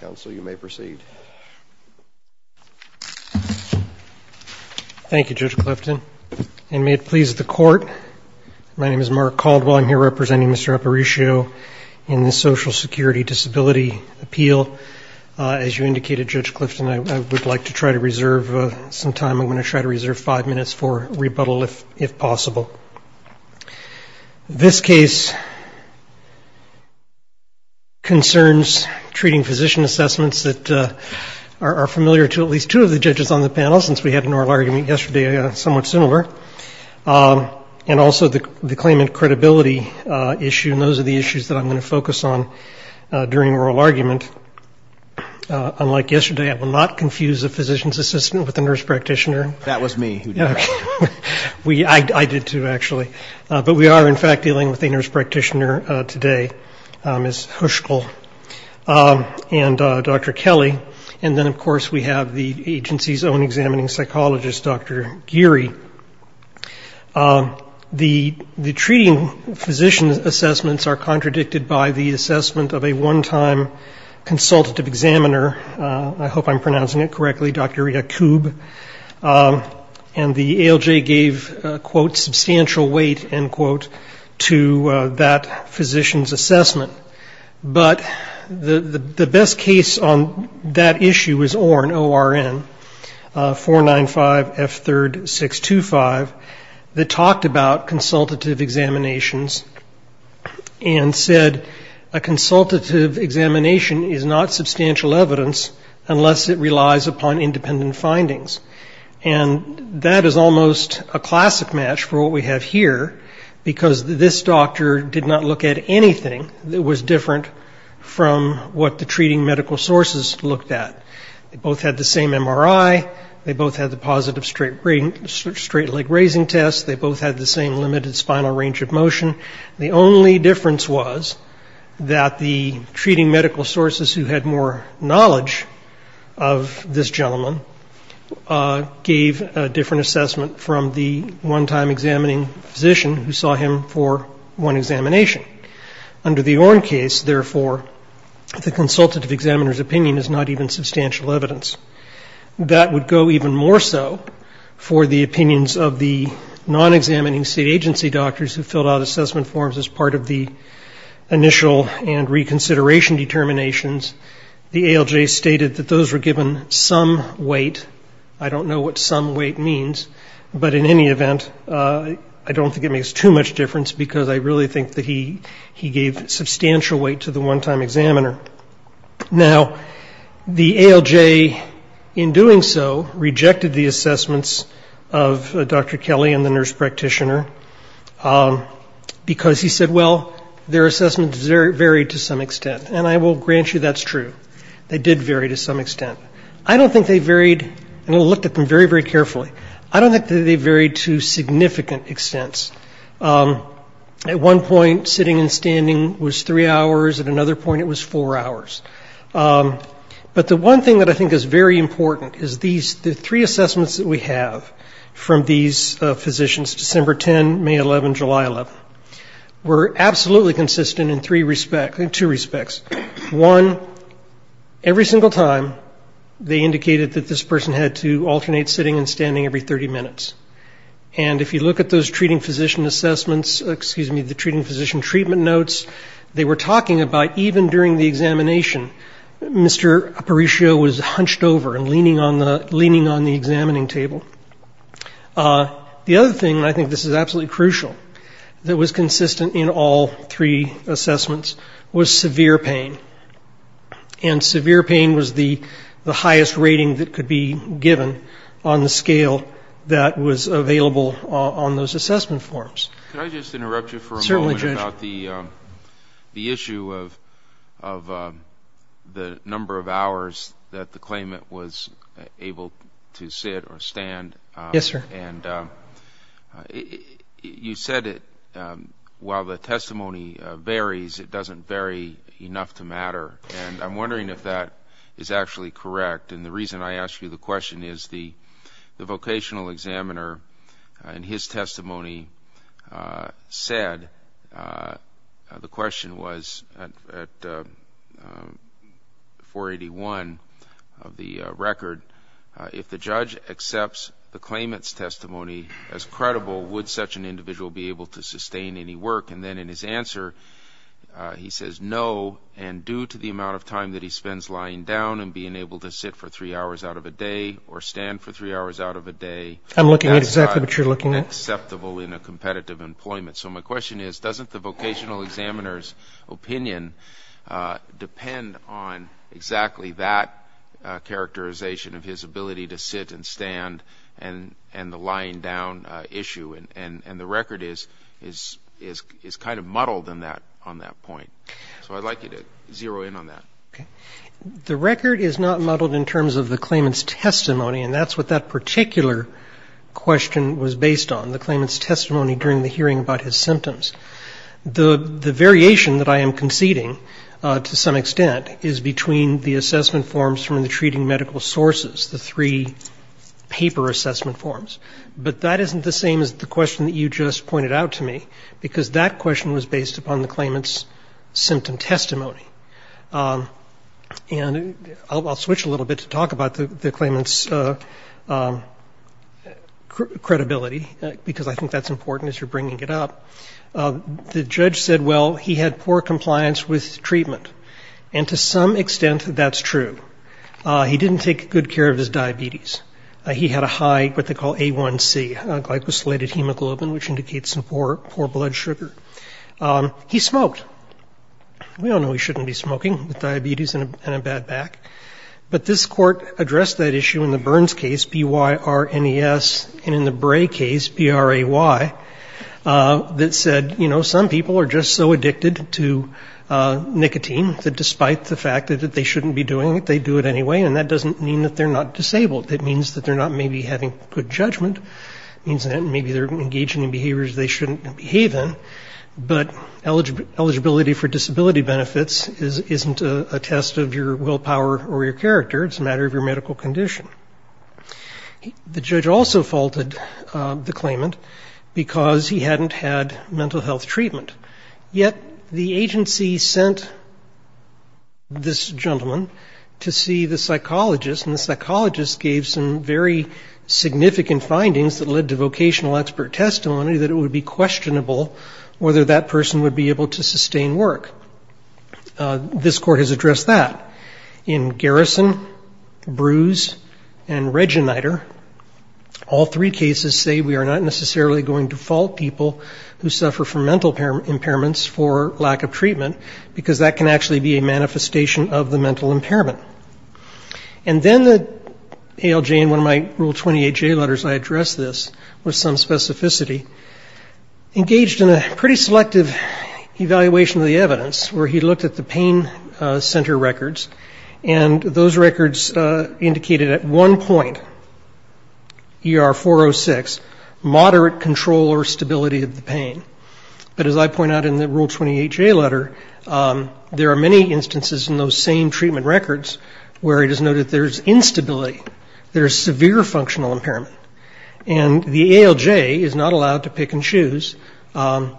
Council you may proceed. Thank you Judge Clifton and may it please the court. My name is Mark Caldwell. I'm here representing Mr. Aparicio in the Social Security Disability Appeal. As you indicated Judge Clifton I would like to try to reserve some time. I'm going to try to reserve five minutes for rebuttal if possible. This case concerns treating physician assessments that are familiar to at least two of the judges on the panel since we had an oral argument yesterday somewhat similar. And also the claimant credibility issue and those are the issues that I'm going to focus on during oral argument. Unlike yesterday I will not confuse a physician's assistant with a nurse practitioner. That was me who did that. I did too actually. But we are in fact dealing with a nurse practitioner today, Ms. Huschkel, and Dr. Kelly. And then of course we have the agency's own examining psychologist, Dr. Geary. The treating physician's assessments are contradicted by the assessment of a one-time consultative examiner, I hope I'm pronouncing it correctly, Dr. Yakub. And the ALJ gave, quote, substantial weight, end quote, to that physician's assessment. But the best case on that issue is Orn, O-R-N, 495F3-625, that talked about consultative examinations and said a consultative examination is not substantial evidence unless it relies upon independent findings. And that is almost a classic match for what we have here, because this doctor did not look at anything that was different from what the treating medical sources looked at. They both had the same MRI. They both had the positive straight leg raising test. They both had the same limited spinal range of motion. The only difference was that the treating medical sources who had more knowledge of this gentleman gave a different assessment from the one-time examining physician who saw him for one examination. Under the Orn case, therefore, the consultative examiner's opinion is not even substantial evidence. That would go even more so for the opinions of the non-examining state agency doctors who filled out assessment forms as part of the initial and reconsideration determinations. The ALJ stated that those were given some weight. I don't know what some weight means, but in any event, I don't think it makes too much difference, because I really think that he gave substantial weight to the one-time examiner. Now, the ALJ, in doing so, rejected the assessments of Dr. Kelly and the nurse practitioner, because he said, well, their assessments varied to some extent. And I will grant you that's true. They did vary to some extent. I don't think they varied, and I looked at them very, very carefully, I don't think that they varied to significant extents. At one point, sitting and standing was three hours. At another point, it was four hours. But the one thing that I think is very important is these, the three assessments that we have from these physicians, December 10, May 11, July 11, were absolutely consistent in three respects, two respects. One, every single time, they indicated that this person had to alternate sitting and standing every 30 minutes. And if you look at those treating physician assessments, excuse me, the treating physician treatment notes, they were talking about even during the examination, Mr. Aparicio was hunched over and leaning on the examining table. The other thing, and I think this is absolutely crucial, that was consistent in all three assessments was severe pain. And severe pain was the highest rating that could be given on the scale that was available on those assessment forms. Can I just interrupt you for a moment about the issue of the number of hours that the claimant was able to sit or stand. Yes, sir. And you said it, while the testimony varies, it doesn't vary enough to matter. And I'm wondering if that is actually correct. And the reason I ask you the question is the vocational examiner in his testimony said, the question was, at 481, the record, if the judge accepts the claimant's testimony as credible, would such an individual be able to sustain any work? And then in his answer, he says, no, and due to the amount of time that he spends lying down and being able to sit for three hours out of a day or stand for three hours out of a day, that's not acceptable in a competitive employment. So my question is, doesn't the vocational examiner's characterization of his ability to sit and stand and the lying down issue, and the record is kind of muddled on that point. So I'd like you to zero in on that. The record is not muddled in terms of the claimant's testimony, and that's what that particular question was based on, the claimant's testimony during the hearing about his symptoms. The variation that I am conceding, to some extent, is between the assessment forms from the treating medical sources, the three paper assessment forms, but that isn't the same as the question that you just pointed out to me, because that question was based upon the claimant's symptom testimony. And I'll switch a little bit to talk about the claimant's credibility, because I think that's important as you're bringing it up. The judge said, well, he had poor compliance with treatment, and to some extent, that's true. He didn't take good care of his diabetes. He had a high, what they call A1C, a glycosylated hemoglobin, which indicates poor blood sugar. He smoked. We all know he shouldn't be smoking with diabetes and a bad back. But this court addressed that issue in the Burns case, B-Y-R-N-E-S, and in the Bray case, B-R-A-Y, that said, you know, some people are just so addicted to nicotine that despite the fact that they shouldn't be doing it, they do it anyway, and that doesn't mean that they're not disabled. It means that they're not maybe having good judgment. It means that maybe they're engaging in behaviors they shouldn't behave in, but eligibility for disability benefits isn't a test of your willpower or your character. It's a matter of your medical condition. The judge also faulted the claimant because he hadn't had mental health treatment, yet the agency sent this gentleman to see the psychologist, and the psychologist gave some very significant findings that led to vocational expert testimony that it would be questionable whether that person would be able to sustain work. This court has addressed that. In Garrison, Brews, and Regeniter, all three cases say we are not necessarily going to confirm impairments for lack of treatment, because that can actually be a manifestation of the mental impairment. And then the ALJ in one of my Rule 28J letters, I addressed this with some specificity, engaged in a pretty selective evaluation of the evidence where he looked at the pain center records, and those records indicated at one point, ER 406, moderate control or stability of the patient. And as I point out in the Rule 28J letter, there are many instances in those same treatment records where it is noted there's instability, there's severe functional impairment, and the ALJ is not allowed to pick and choose among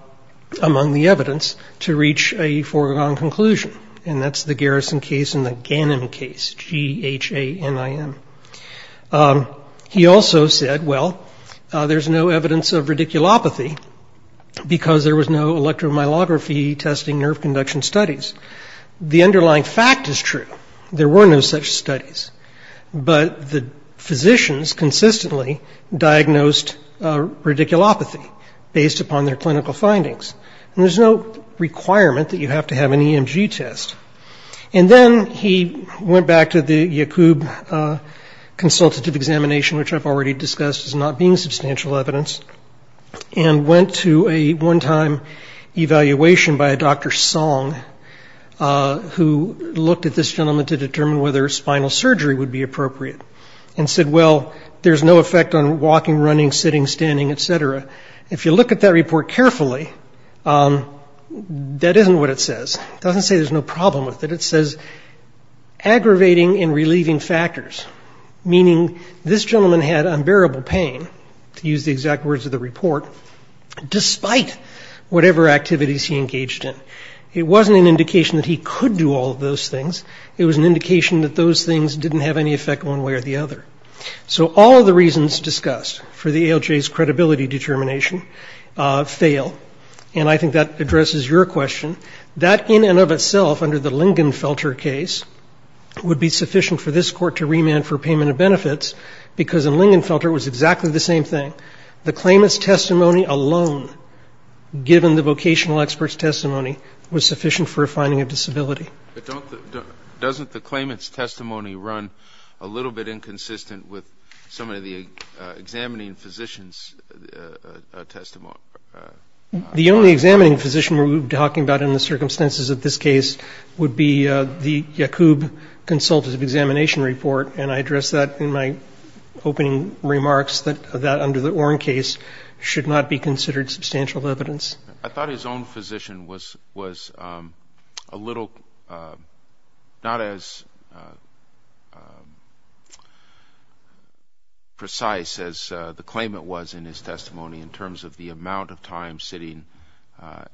the evidence to reach a foregone conclusion, and that's the Garrison case and the Ganim case, G-H-A-N-I-M. He also said, well, there's no evidence of radiculopathy, because there was no elective electromyelography testing nerve conduction studies. The underlying fact is true, there were no such studies, but the physicians consistently diagnosed radiculopathy based upon their clinical findings, and there's no requirement that you have to have an EMG test. And then he went back to the Yacoub consultative examination, which I've already discussed as not being substantial evidence, and went to a one-time evaluation by Dr. Song, who looked at this gentleman to determine whether spinal surgery would be appropriate, and said, well, there's no effect on walking, running, sitting, standing, et cetera. If you look at that report carefully, that isn't what it says. It doesn't say there's no problem with it. It says aggravating and relieving factors, meaning this gentleman had unbearable pain, to use the exact words of the report, despite whatever activities he engaged in. It wasn't an indication that he could do all of those things. It was an indication that those things didn't have any effect one way or the other. So all of the reasons discussed for the ALJ's credibility determination fail, and I think that addresses your question. That, in and of itself, under the Lingenfelter case, would be sufficient for this Court to remand for payment of benefits, because in Lingenfelter it was exactly the same thing. The claimant's testimony alone, given the vocational expert's testimony, was sufficient for a finding of disability. But don't the — doesn't the claimant's testimony run a little bit inconsistent with some of the examining physician's testimony? The only examining physician we're talking about in the circumstances of this case would be the Yacoub Consultative Examination Report, and I addressed that in my opening remarks, that that, under the Orn case, should not be considered substantial evidence. I thought his own physician was a little not as precise as the claimant was in his testimony in terms of the amount of time sitting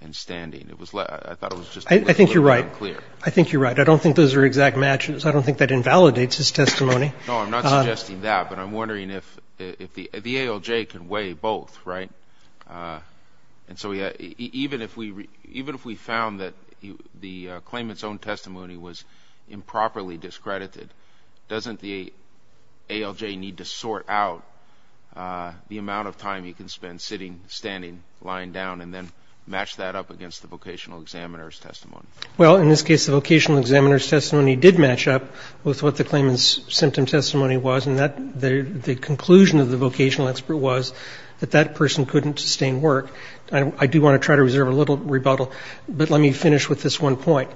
and standing. It was — I thought it was just a little bit unclear. I think you're right. I think you're right. I don't think those are exact matches. I don't think that invalidates his testimony. No, I'm not suggesting that, but I'm wondering if the ALJ can weigh both, right? And so even if we found that the claimant's own testimony was improperly discredited, doesn't the ALJ need to sort out the amount of time he can spend sitting, standing, lying down, and then match that up against the vocational examiner's testimony? Well, in this case, the vocational examiner's testimony did match up with what the claimant's symptom testimony was, and the conclusion of the vocational expert was that that person couldn't sustain work. I do want to try to reserve a little rebuttal, but let me finish with this one point.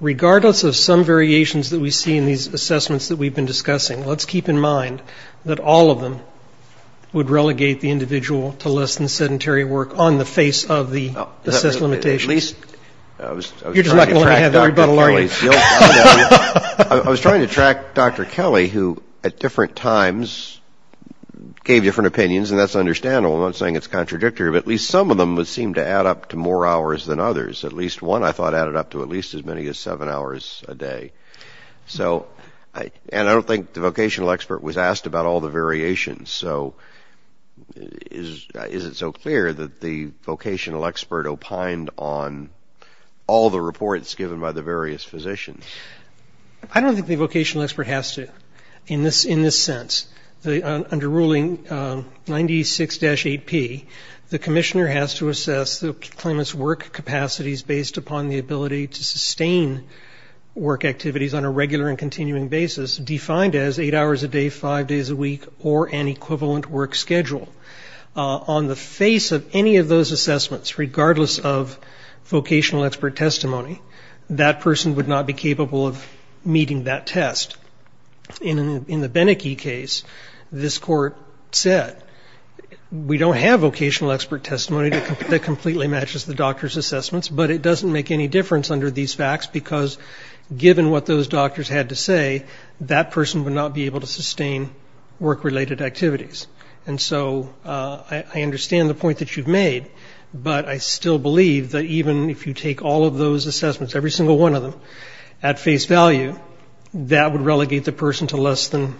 Regardless of some variations that we see in these assessments that we've been discussing, let's keep in mind that all of them would relegate the individual to less than sedentary work on the face of the assessed limitation. You're just not going to let me have that rebuttal, are you? I was trying to track Dr. Kelly, who at different times gave different opinions, and that's understandable. I'm not saying it's contradictory, but at least some of them seemed to add up to more hours than others. At least one, I thought, added up to at least as many as seven hours a day. And I don't think the vocational expert was asked about all the variations. So is it so clear that the vocational expert opined on all the reports given by the various physicians? I don't think the vocational expert has to in this sense. Under Ruling 96-8P, the commissioner has to assess the claimant's work capacities based upon the ability to sustain work activities on a regular and continuing basis, defined as eight hours a day, five days a week, or an equivalent work schedule. On the face of any of those assessments, regardless of vocational expert testimony, that person would not be capable of meeting that test. In the Beneke case, this court said, we don't have vocational expert testimony that completely matches the doctor's assessments, but it doesn't make any difference under these facts because given what those doctors had to say, that person would not be able to sustain work-related activities. And so I understand the point that you've made, but I still believe that even if you take all of those assessments, every single one of them, at face value, that would relegate the person to less than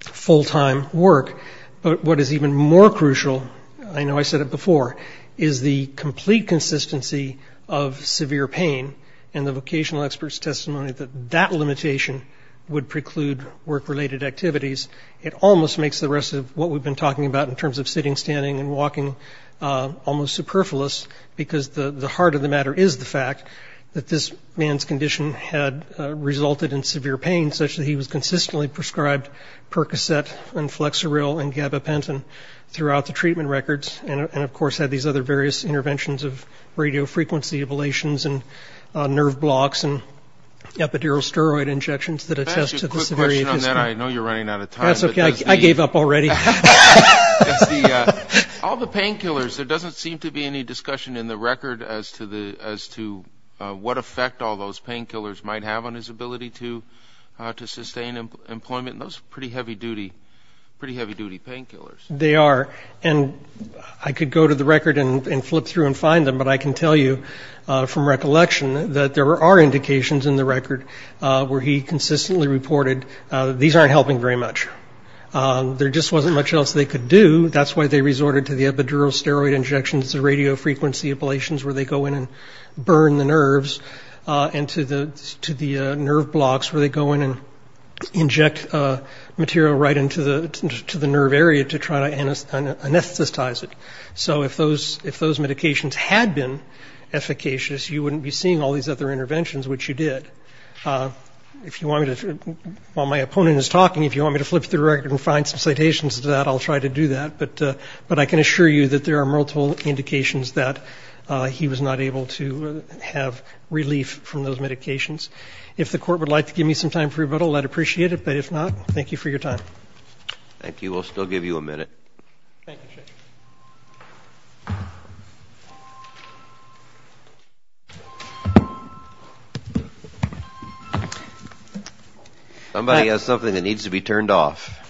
full-time work. But what is even more crucial, I know I said it before, is the complete consistency of severe pain, and the vocational expert's testimony that that limitation would preclude work-related activities. It almost makes the rest of what we've been talking about in terms of sitting, standing and walking almost superfluous because the heart of the matter is the fact that this man's condition had resulted in severe pain, such that he was consistently prescribed Percocet and Flexeril and Gabapentin throughout the treatment records and, of course, had these other various interventions of radiofrequency ablations and nerve blocks and epidural steroid injections that attest to the severity of his pain. Let me ask you a quick question on that. I know you're running out of time. That's okay. I gave up already. All the painkillers, there doesn't seem to be any discussion in the record as to what effect all those painkillers might have on his ability to sustain employment. Those are pretty heavy-duty painkillers. They are, and I could go to the record and flip through and find them, but I can tell you from recollection that there are indications in the record where he consistently reported that these aren't helping very much. There just wasn't much else they could do. That's why they resorted to the epidural steroid injections, the radiofrequency ablations, where they go in and burn the nerves, and to the nerve blocks where they go in and inject material right into the nerve area to try to anesthetize it. So if those medications had been efficacious, you wouldn't be seeing all these other interventions, which you did. While my opponent is talking, if you want me to flip through the record and find some citations to that, I'll try to do that, but I can assure you that there are multiple indications that he was not able to have relief from those medications. If the Court would like to give me some time for rebuttal, I'd appreciate it. But if not, thank you for your time. Thank you. We'll still give you a minute. Thank you, Judge. Somebody has something that needs to be turned off.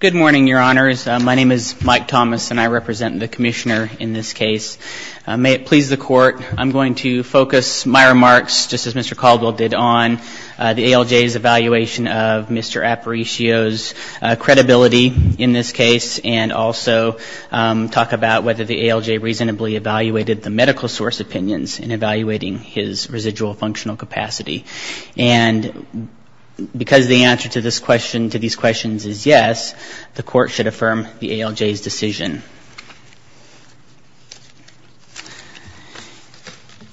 Good morning, Your Honors. My name is Mike Thomas, and I represent the Commissioner in this case. May it please the Court. I'm going to focus my remarks, just as Mr. Caldwell did, on the ALJ's evaluation of Mr. Aparicio's credibility in this case, and also talk about whether the ALJ reasonably evaluated the medical source opinions in evaluating his residual functional capacity. And because the answer to this question, to these questions, is yes, the Court should affirm the ALJ's decision.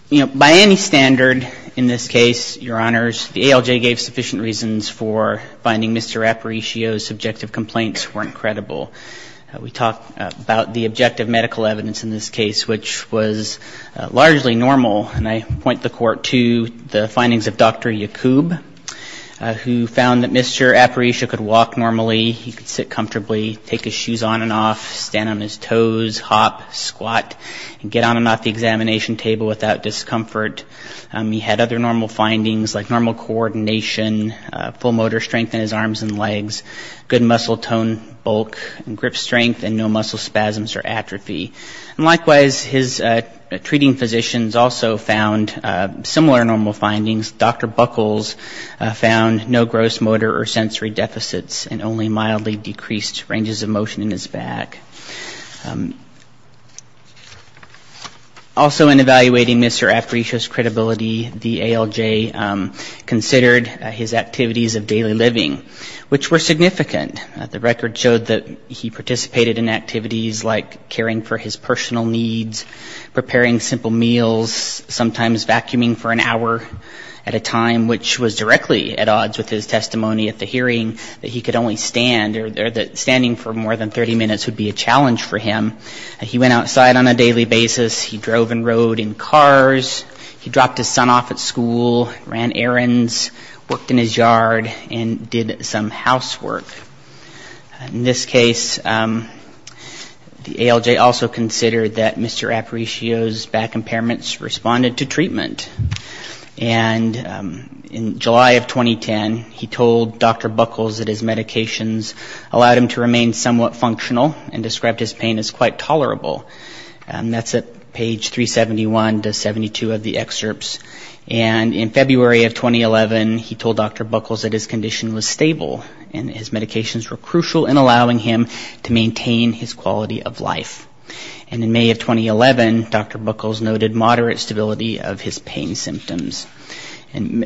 By any standard in this case, Your Honors, the ALJ gave sufficient reasons for finding Mr. Aparicio's subjective complaints weren't credible. We talked about the objective medical evidence in this case, which was largely normal, and I point the Court to the findings of Dr. Yacoub, who found that Mr. Aparicio could walk normally. He could sit comfortably, take his shoes on and off, stand on his toes, hop, squat, and get on and off the examination table without discomfort. He had other normal findings, like normal coordination, full motor strength in his arms and legs, good muscle tone, bulk, and grip strength, and no muscle spasms or atrophy. And likewise, his treating physicians also found similar normal findings. Dr. Buckles found no gross motor or sensory deficits and only mildly decreased ranges of motion in his back. Also in evaluating Mr. Aparicio's credibility, the ALJ considered his activities of daily living, which were significant. The record showed that he participated in activities like caring for his personal needs, preparing simple meals, sometimes vacuuming for an hour at a time, which was directly at odds with his testimony at the hearing, that he could only stand or that standing for more than 30 minutes would be a challenge for him. He went outside on a daily basis. He drove and rode in cars. He dropped his son off at school, ran errands, worked in his yard, and did some housework. In this case, the ALJ also considered that Mr. Aparicio's back impairments responded to treatment. And in July of 2010, he told Dr. Buckles that his medications allowed him to remain somewhat functional and described his pain as quite tolerable. And that's at page 371 to 72 of the excerpts. And in February of 2011, he told Dr. Buckles that his condition was stable and his medications were crucial in allowing him to maintain his quality of life. And in May of 2011, Dr. Buckles noted moderate stability of his pain symptoms. And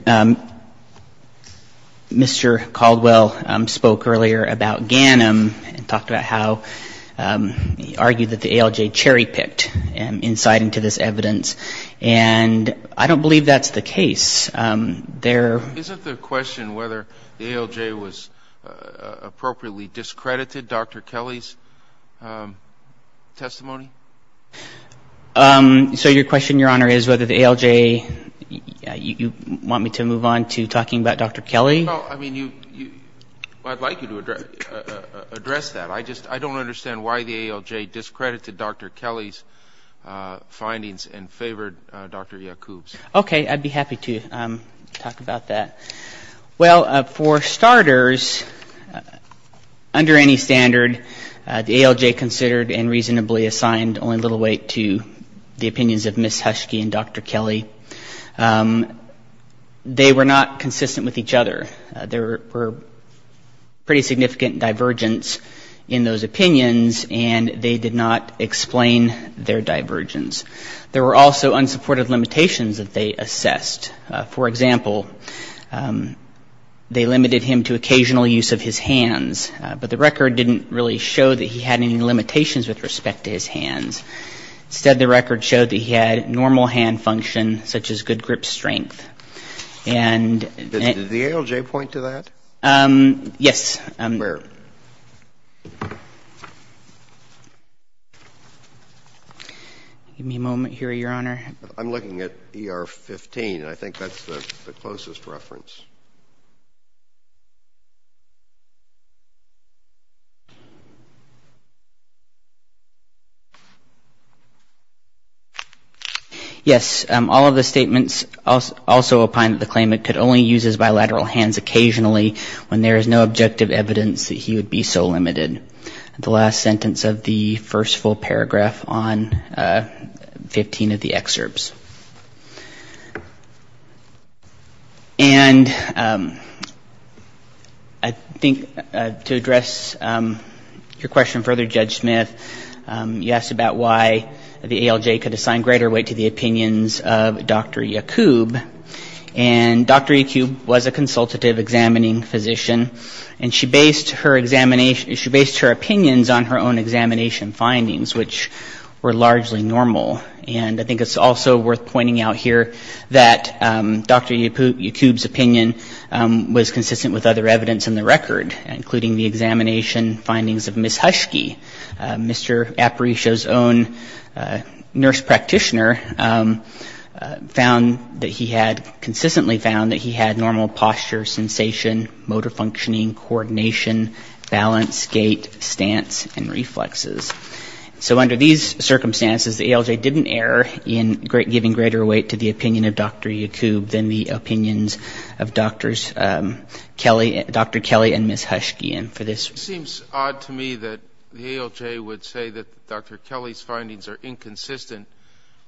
Mr. Caldwell spoke earlier about GANM and talked about how he argued that the ALJ cherry-picked insight into this evidence. And I don't believe that's the case. There are... Isn't the question whether the ALJ was appropriately discredited Dr. Kelly's testimony? So your question, Your Honor, is whether the ALJ you want me to move on to talking about Dr. Kelly? Well, I mean, I'd like you to address that. I just don't understand why the ALJ discredited Dr. Kelly's findings and favored Dr. Yacoub's. Okay. I'd be happy to talk about that. Well, for starters, under any standard, the ALJ considered and reasonably assigned only little weight to the opinions of Ms. Huschke and Dr. Kelly. They were not consistent with each other. There were pretty significant divergence in those opinions, and they did not explain their divergence. There were also unsupported limitations that they assessed. For example, they limited him to occasional use of his hands. But the record didn't really show that he had any limitations with respect to his hands. Instead, the record showed that he had normal hand function, such as good grip strength. And... Did the ALJ point to that? Yes. Where? Give me a moment here, Your Honor. I'm looking at ER 15, and I think that's the closest reference. Yes. All of the statements also opine that the claimant could only use his bilateral hands occasionally when there is no objective evidence that he would be so limited. The last sentence of the first full paragraph on 15 of the excerpts. And I think to address your question further, Judge Smith, you asked about why the ALJ could assign greater weight to the opinions of Dr. Yacoub. And Dr. Yacoub was a consultative examining physician. And she based her opinions on her own examination findings, which were largely normal. And I think it's also worth pointing out here that Dr. Yacoub's opinion was consistent with other evidence in the record, including the examination findings of Ms. Huschke. Mr. Aparicio's own nurse practitioner found that he had, consistently found that he had normal posture, sensation, motor functioning, coordination, balance, gait, stance, and reflexes. So under these circumstances, the ALJ didn't err in giving greater weight to the opinion of Dr. Yacoub than the opinions of Dr. Kelly and Ms. Huschke. It seems odd to me that the ALJ would say that Dr. Kelly's findings are inconsistent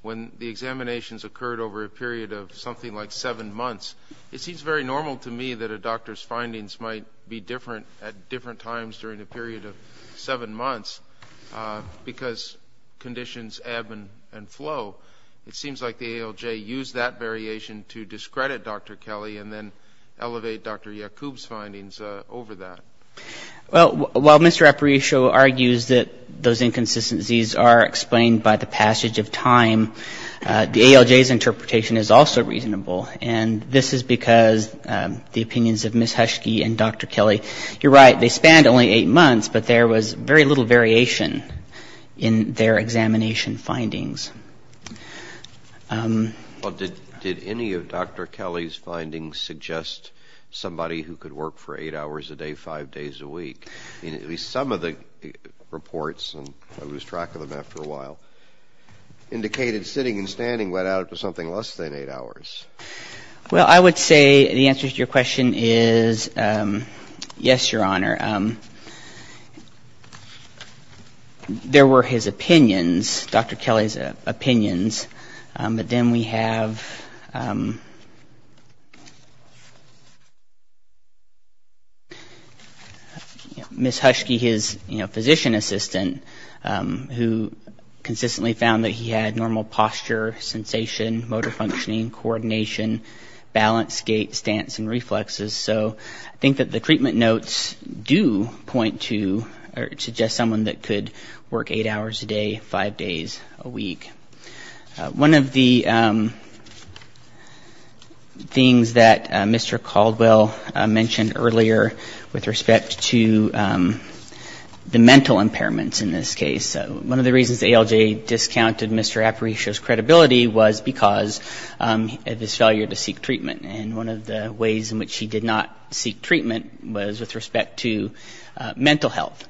when the examinations occurred over a period of something like seven months. It seems very normal to me that a doctor's findings might be different at different times during a period of seven months, because conditions ebb and flow. It seems like the ALJ used that variation to discredit Dr. Kelly and then elevate Dr. Yacoub's findings over that. Well, while Mr. Aparicio argues that those inconsistencies are explained by the passage of time, the ALJ's interpretation is also reasonable. And this is because the opinions of Ms. Huschke and Dr. Kelly, you're right, they spanned only eight months, but there was very little variation in their examination findings. Well, did any of Dr. Kelly's findings suggest somebody who could work for eight hours a day five days a week, at least some of the reports, and I lose track of them after a while, indicated sitting and standing went out to something less than eight hours? Well, I would say the answer to your question is yes, Your Honor. There were his opinions, Dr. Kelly's opinions, but then we have Ms. Huschke, his physician assistant, who consistently found that he had normal posture, sensation, motor functioning, coordination, balance, gait, stance, and reflexes. So I think that the treatment notes do point to or suggest someone that could work eight hours a day five days a week. One of the things that Mr. Caldwell mentioned earlier with respect to the ALJ, with respect to the mental impairments in this case, one of the reasons the ALJ discounted Mr. Aparicio's credibility was because of his failure to seek treatment. And one of the ways in which he did not seek treatment was with respect to mental health.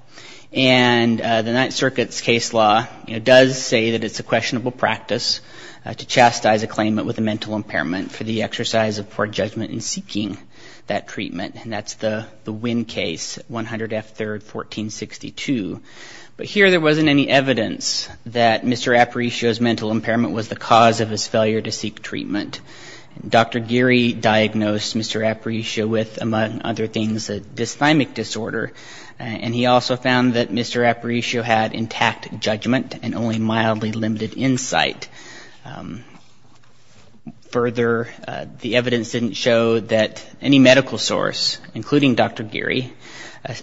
And the Ninth Circuit's case law does say that it's a questionable practice to chastise a claimant with a mental impairment for the exercise of poor judgment in seeking that treatment. And that's the Winn case, 100 F. 3rd, 1462. But here there wasn't any evidence that Mr. Aparicio's mental impairment was the cause of his failure to seek treatment. Dr. Geary diagnosed Mr. Aparicio with, among other things, a dysthymic disorder, and he also found that Mr. Aparicio had intact judgment and only mildly limited insight. Further, the evidence didn't show that any medical source, including Dr. Geary,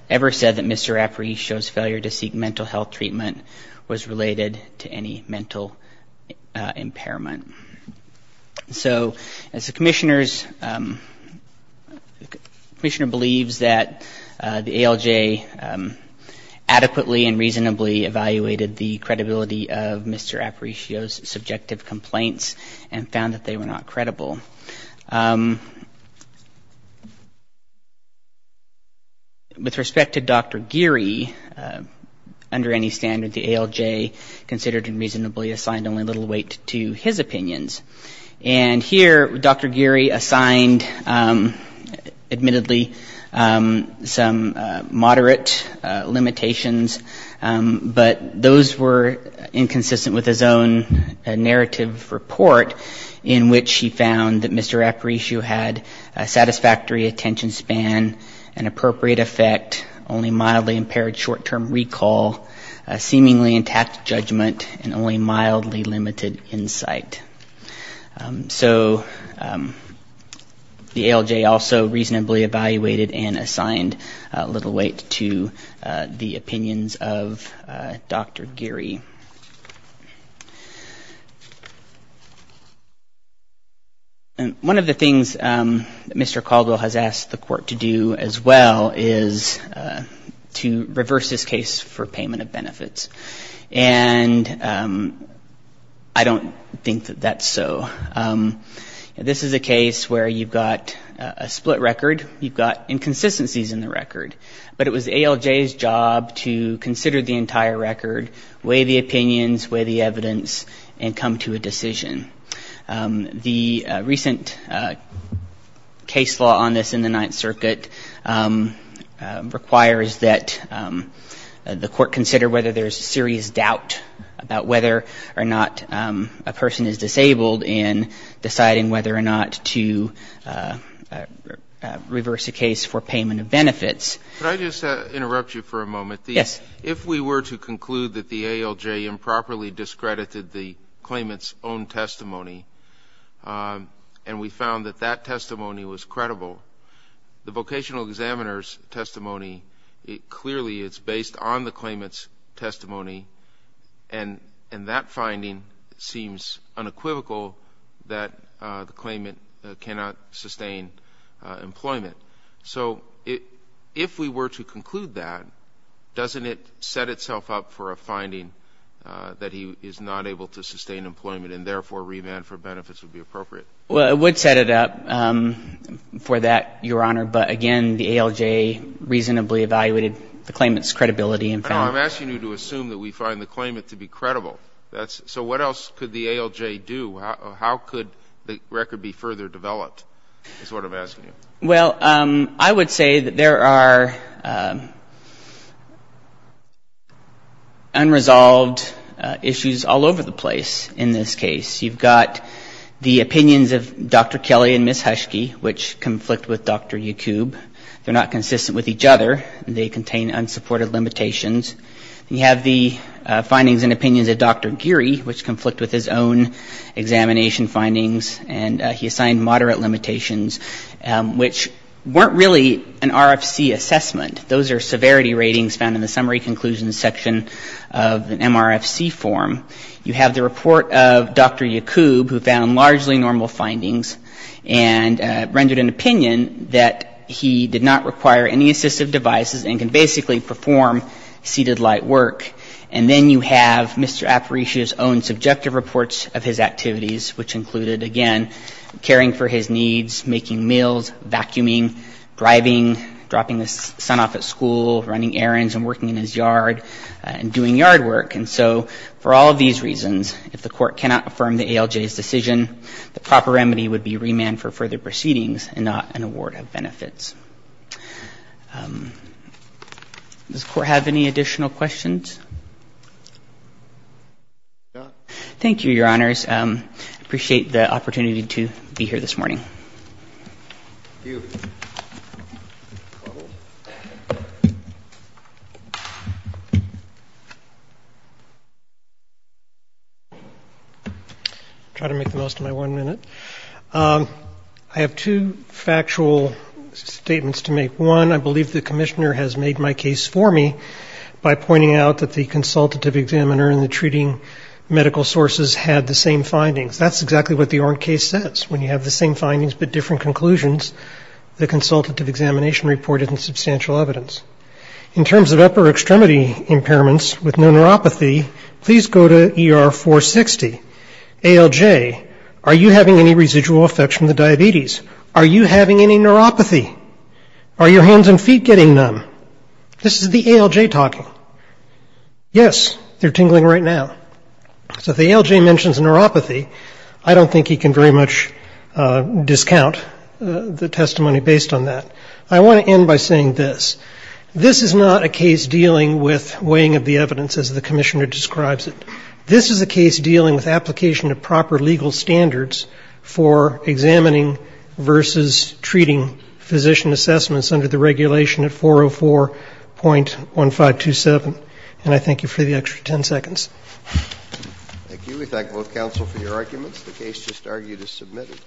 ever said that Mr. Aparicio's failure to seek mental health treatment was related to any mental impairment. So as the Commissioner's, the Commissioner believes that the ALJ adequately and reasonably evaluated the credibility of Mr. Aparicio's subjective complaints and found that they were not credible. With respect to Dr. Geary, under any standard, the ALJ considered him reasonably assigned only little weight to his opinions. And here Dr. Geary assigned, admittedly, some moderate limitations, but those were inconsistent with his own narrative report, in which he found that Mr. Aparicio had a satisfactory attention span, an appropriate effect, only mildly impaired short-term recall, seemingly intact judgment, and only mildly limited insight. So the ALJ also reasonably evaluated and assigned little weight to the opinions of Dr. Geary. And one of the things that Mr. Caldwell has asked the Court to do as well is to reverse this case for payment of benefits. And I don't think that that's so. This is a case where you've got a split record, you've got inconsistencies in the record, but it was ALJ's job to consider the entire record, weigh the opinions, weigh the evidence, and come to a decision. The recent case law on this in the Ninth Circuit requires that the Court consider whether there's serious doubt about whether or not a person is disabled in deciding whether or not to reverse a case for payment of benefits. Could I just interrupt you for a moment? If we were to conclude that the ALJ improperly discredited the claimant's own testimony and we found that that testimony was credible, the vocational examiner's testimony, clearly it's based on the claimant's testimony, and that finding seems unequivocal that the claimant cannot sustain employment. So if we were to conclude that, doesn't it set itself up for a finding that he is not able to sustain employment and, therefore, remand for benefits would be appropriate? Well, it would set it up for that, Your Honor. But, again, the ALJ reasonably evaluated the claimant's credibility and found that the claimant's testimony was credible. So what else could the ALJ do? How could the record be further developed is what I'm asking you. Well, I would say that there are unresolved issues all over the place in this case. You've got the opinions of Dr. Kelly and Ms. Huschke, which conflict with Dr. Yacoub. They're not consistent with each other and they contain unsupported limitations. You have the findings and opinions of Dr. Geary, which conflict with his own examination findings, and he assigned moderate limitations, which weren't really an RFC assessment. Those are severity ratings found in the summary conclusions section of an MRFC form. You have the report of Dr. Yacoub who found largely normal findings and rendered an opinion that he did not require any assistive devices and can basically perform seated light work. And then you have Mr. Aparicio's own subjective reports of his activities, which included, again, caring for his needs, making meals, vacuuming, driving, dropping his son off at school, running errands and working in his yard and doing yard work. And so for all of these reasons, if the court cannot affirm the ALJ's decision, the proper remedy would be remand for further proceedings and not an award of benefits. Does the court have any additional questions? Thank you, Your Honors. I appreciate the opportunity to be here this morning. I'll try to make the most of my one minute. I have two factual statements to make. One, I believe the commissioner has made my case for me by pointing out that the consultative examiner and the treating medical sources had the same findings. That's exactly what the Orn case says. When you have the same findings but different conclusions, the consultative examination reported in substantial evidence. In terms of upper extremity impairments with no neuropathy, please go to ER 460. ALJ, are you having any residual effects from the diabetes? Are you having any neuropathy? Are your hands and feet getting numb? This is the ALJ talking. Yes, they're tingling right now. So if the ALJ mentions neuropathy, I don't think he can very much discount the testimony based on that. I want to end by saying this, this is not a case dealing with weighing of the evidence as the commissioner describes it. It's a case dealing with position assessments under the regulation at 404.1527. And I thank you for the extra ten seconds. Thank you. We thank both counsel for your arguments. The case just argued is submitted.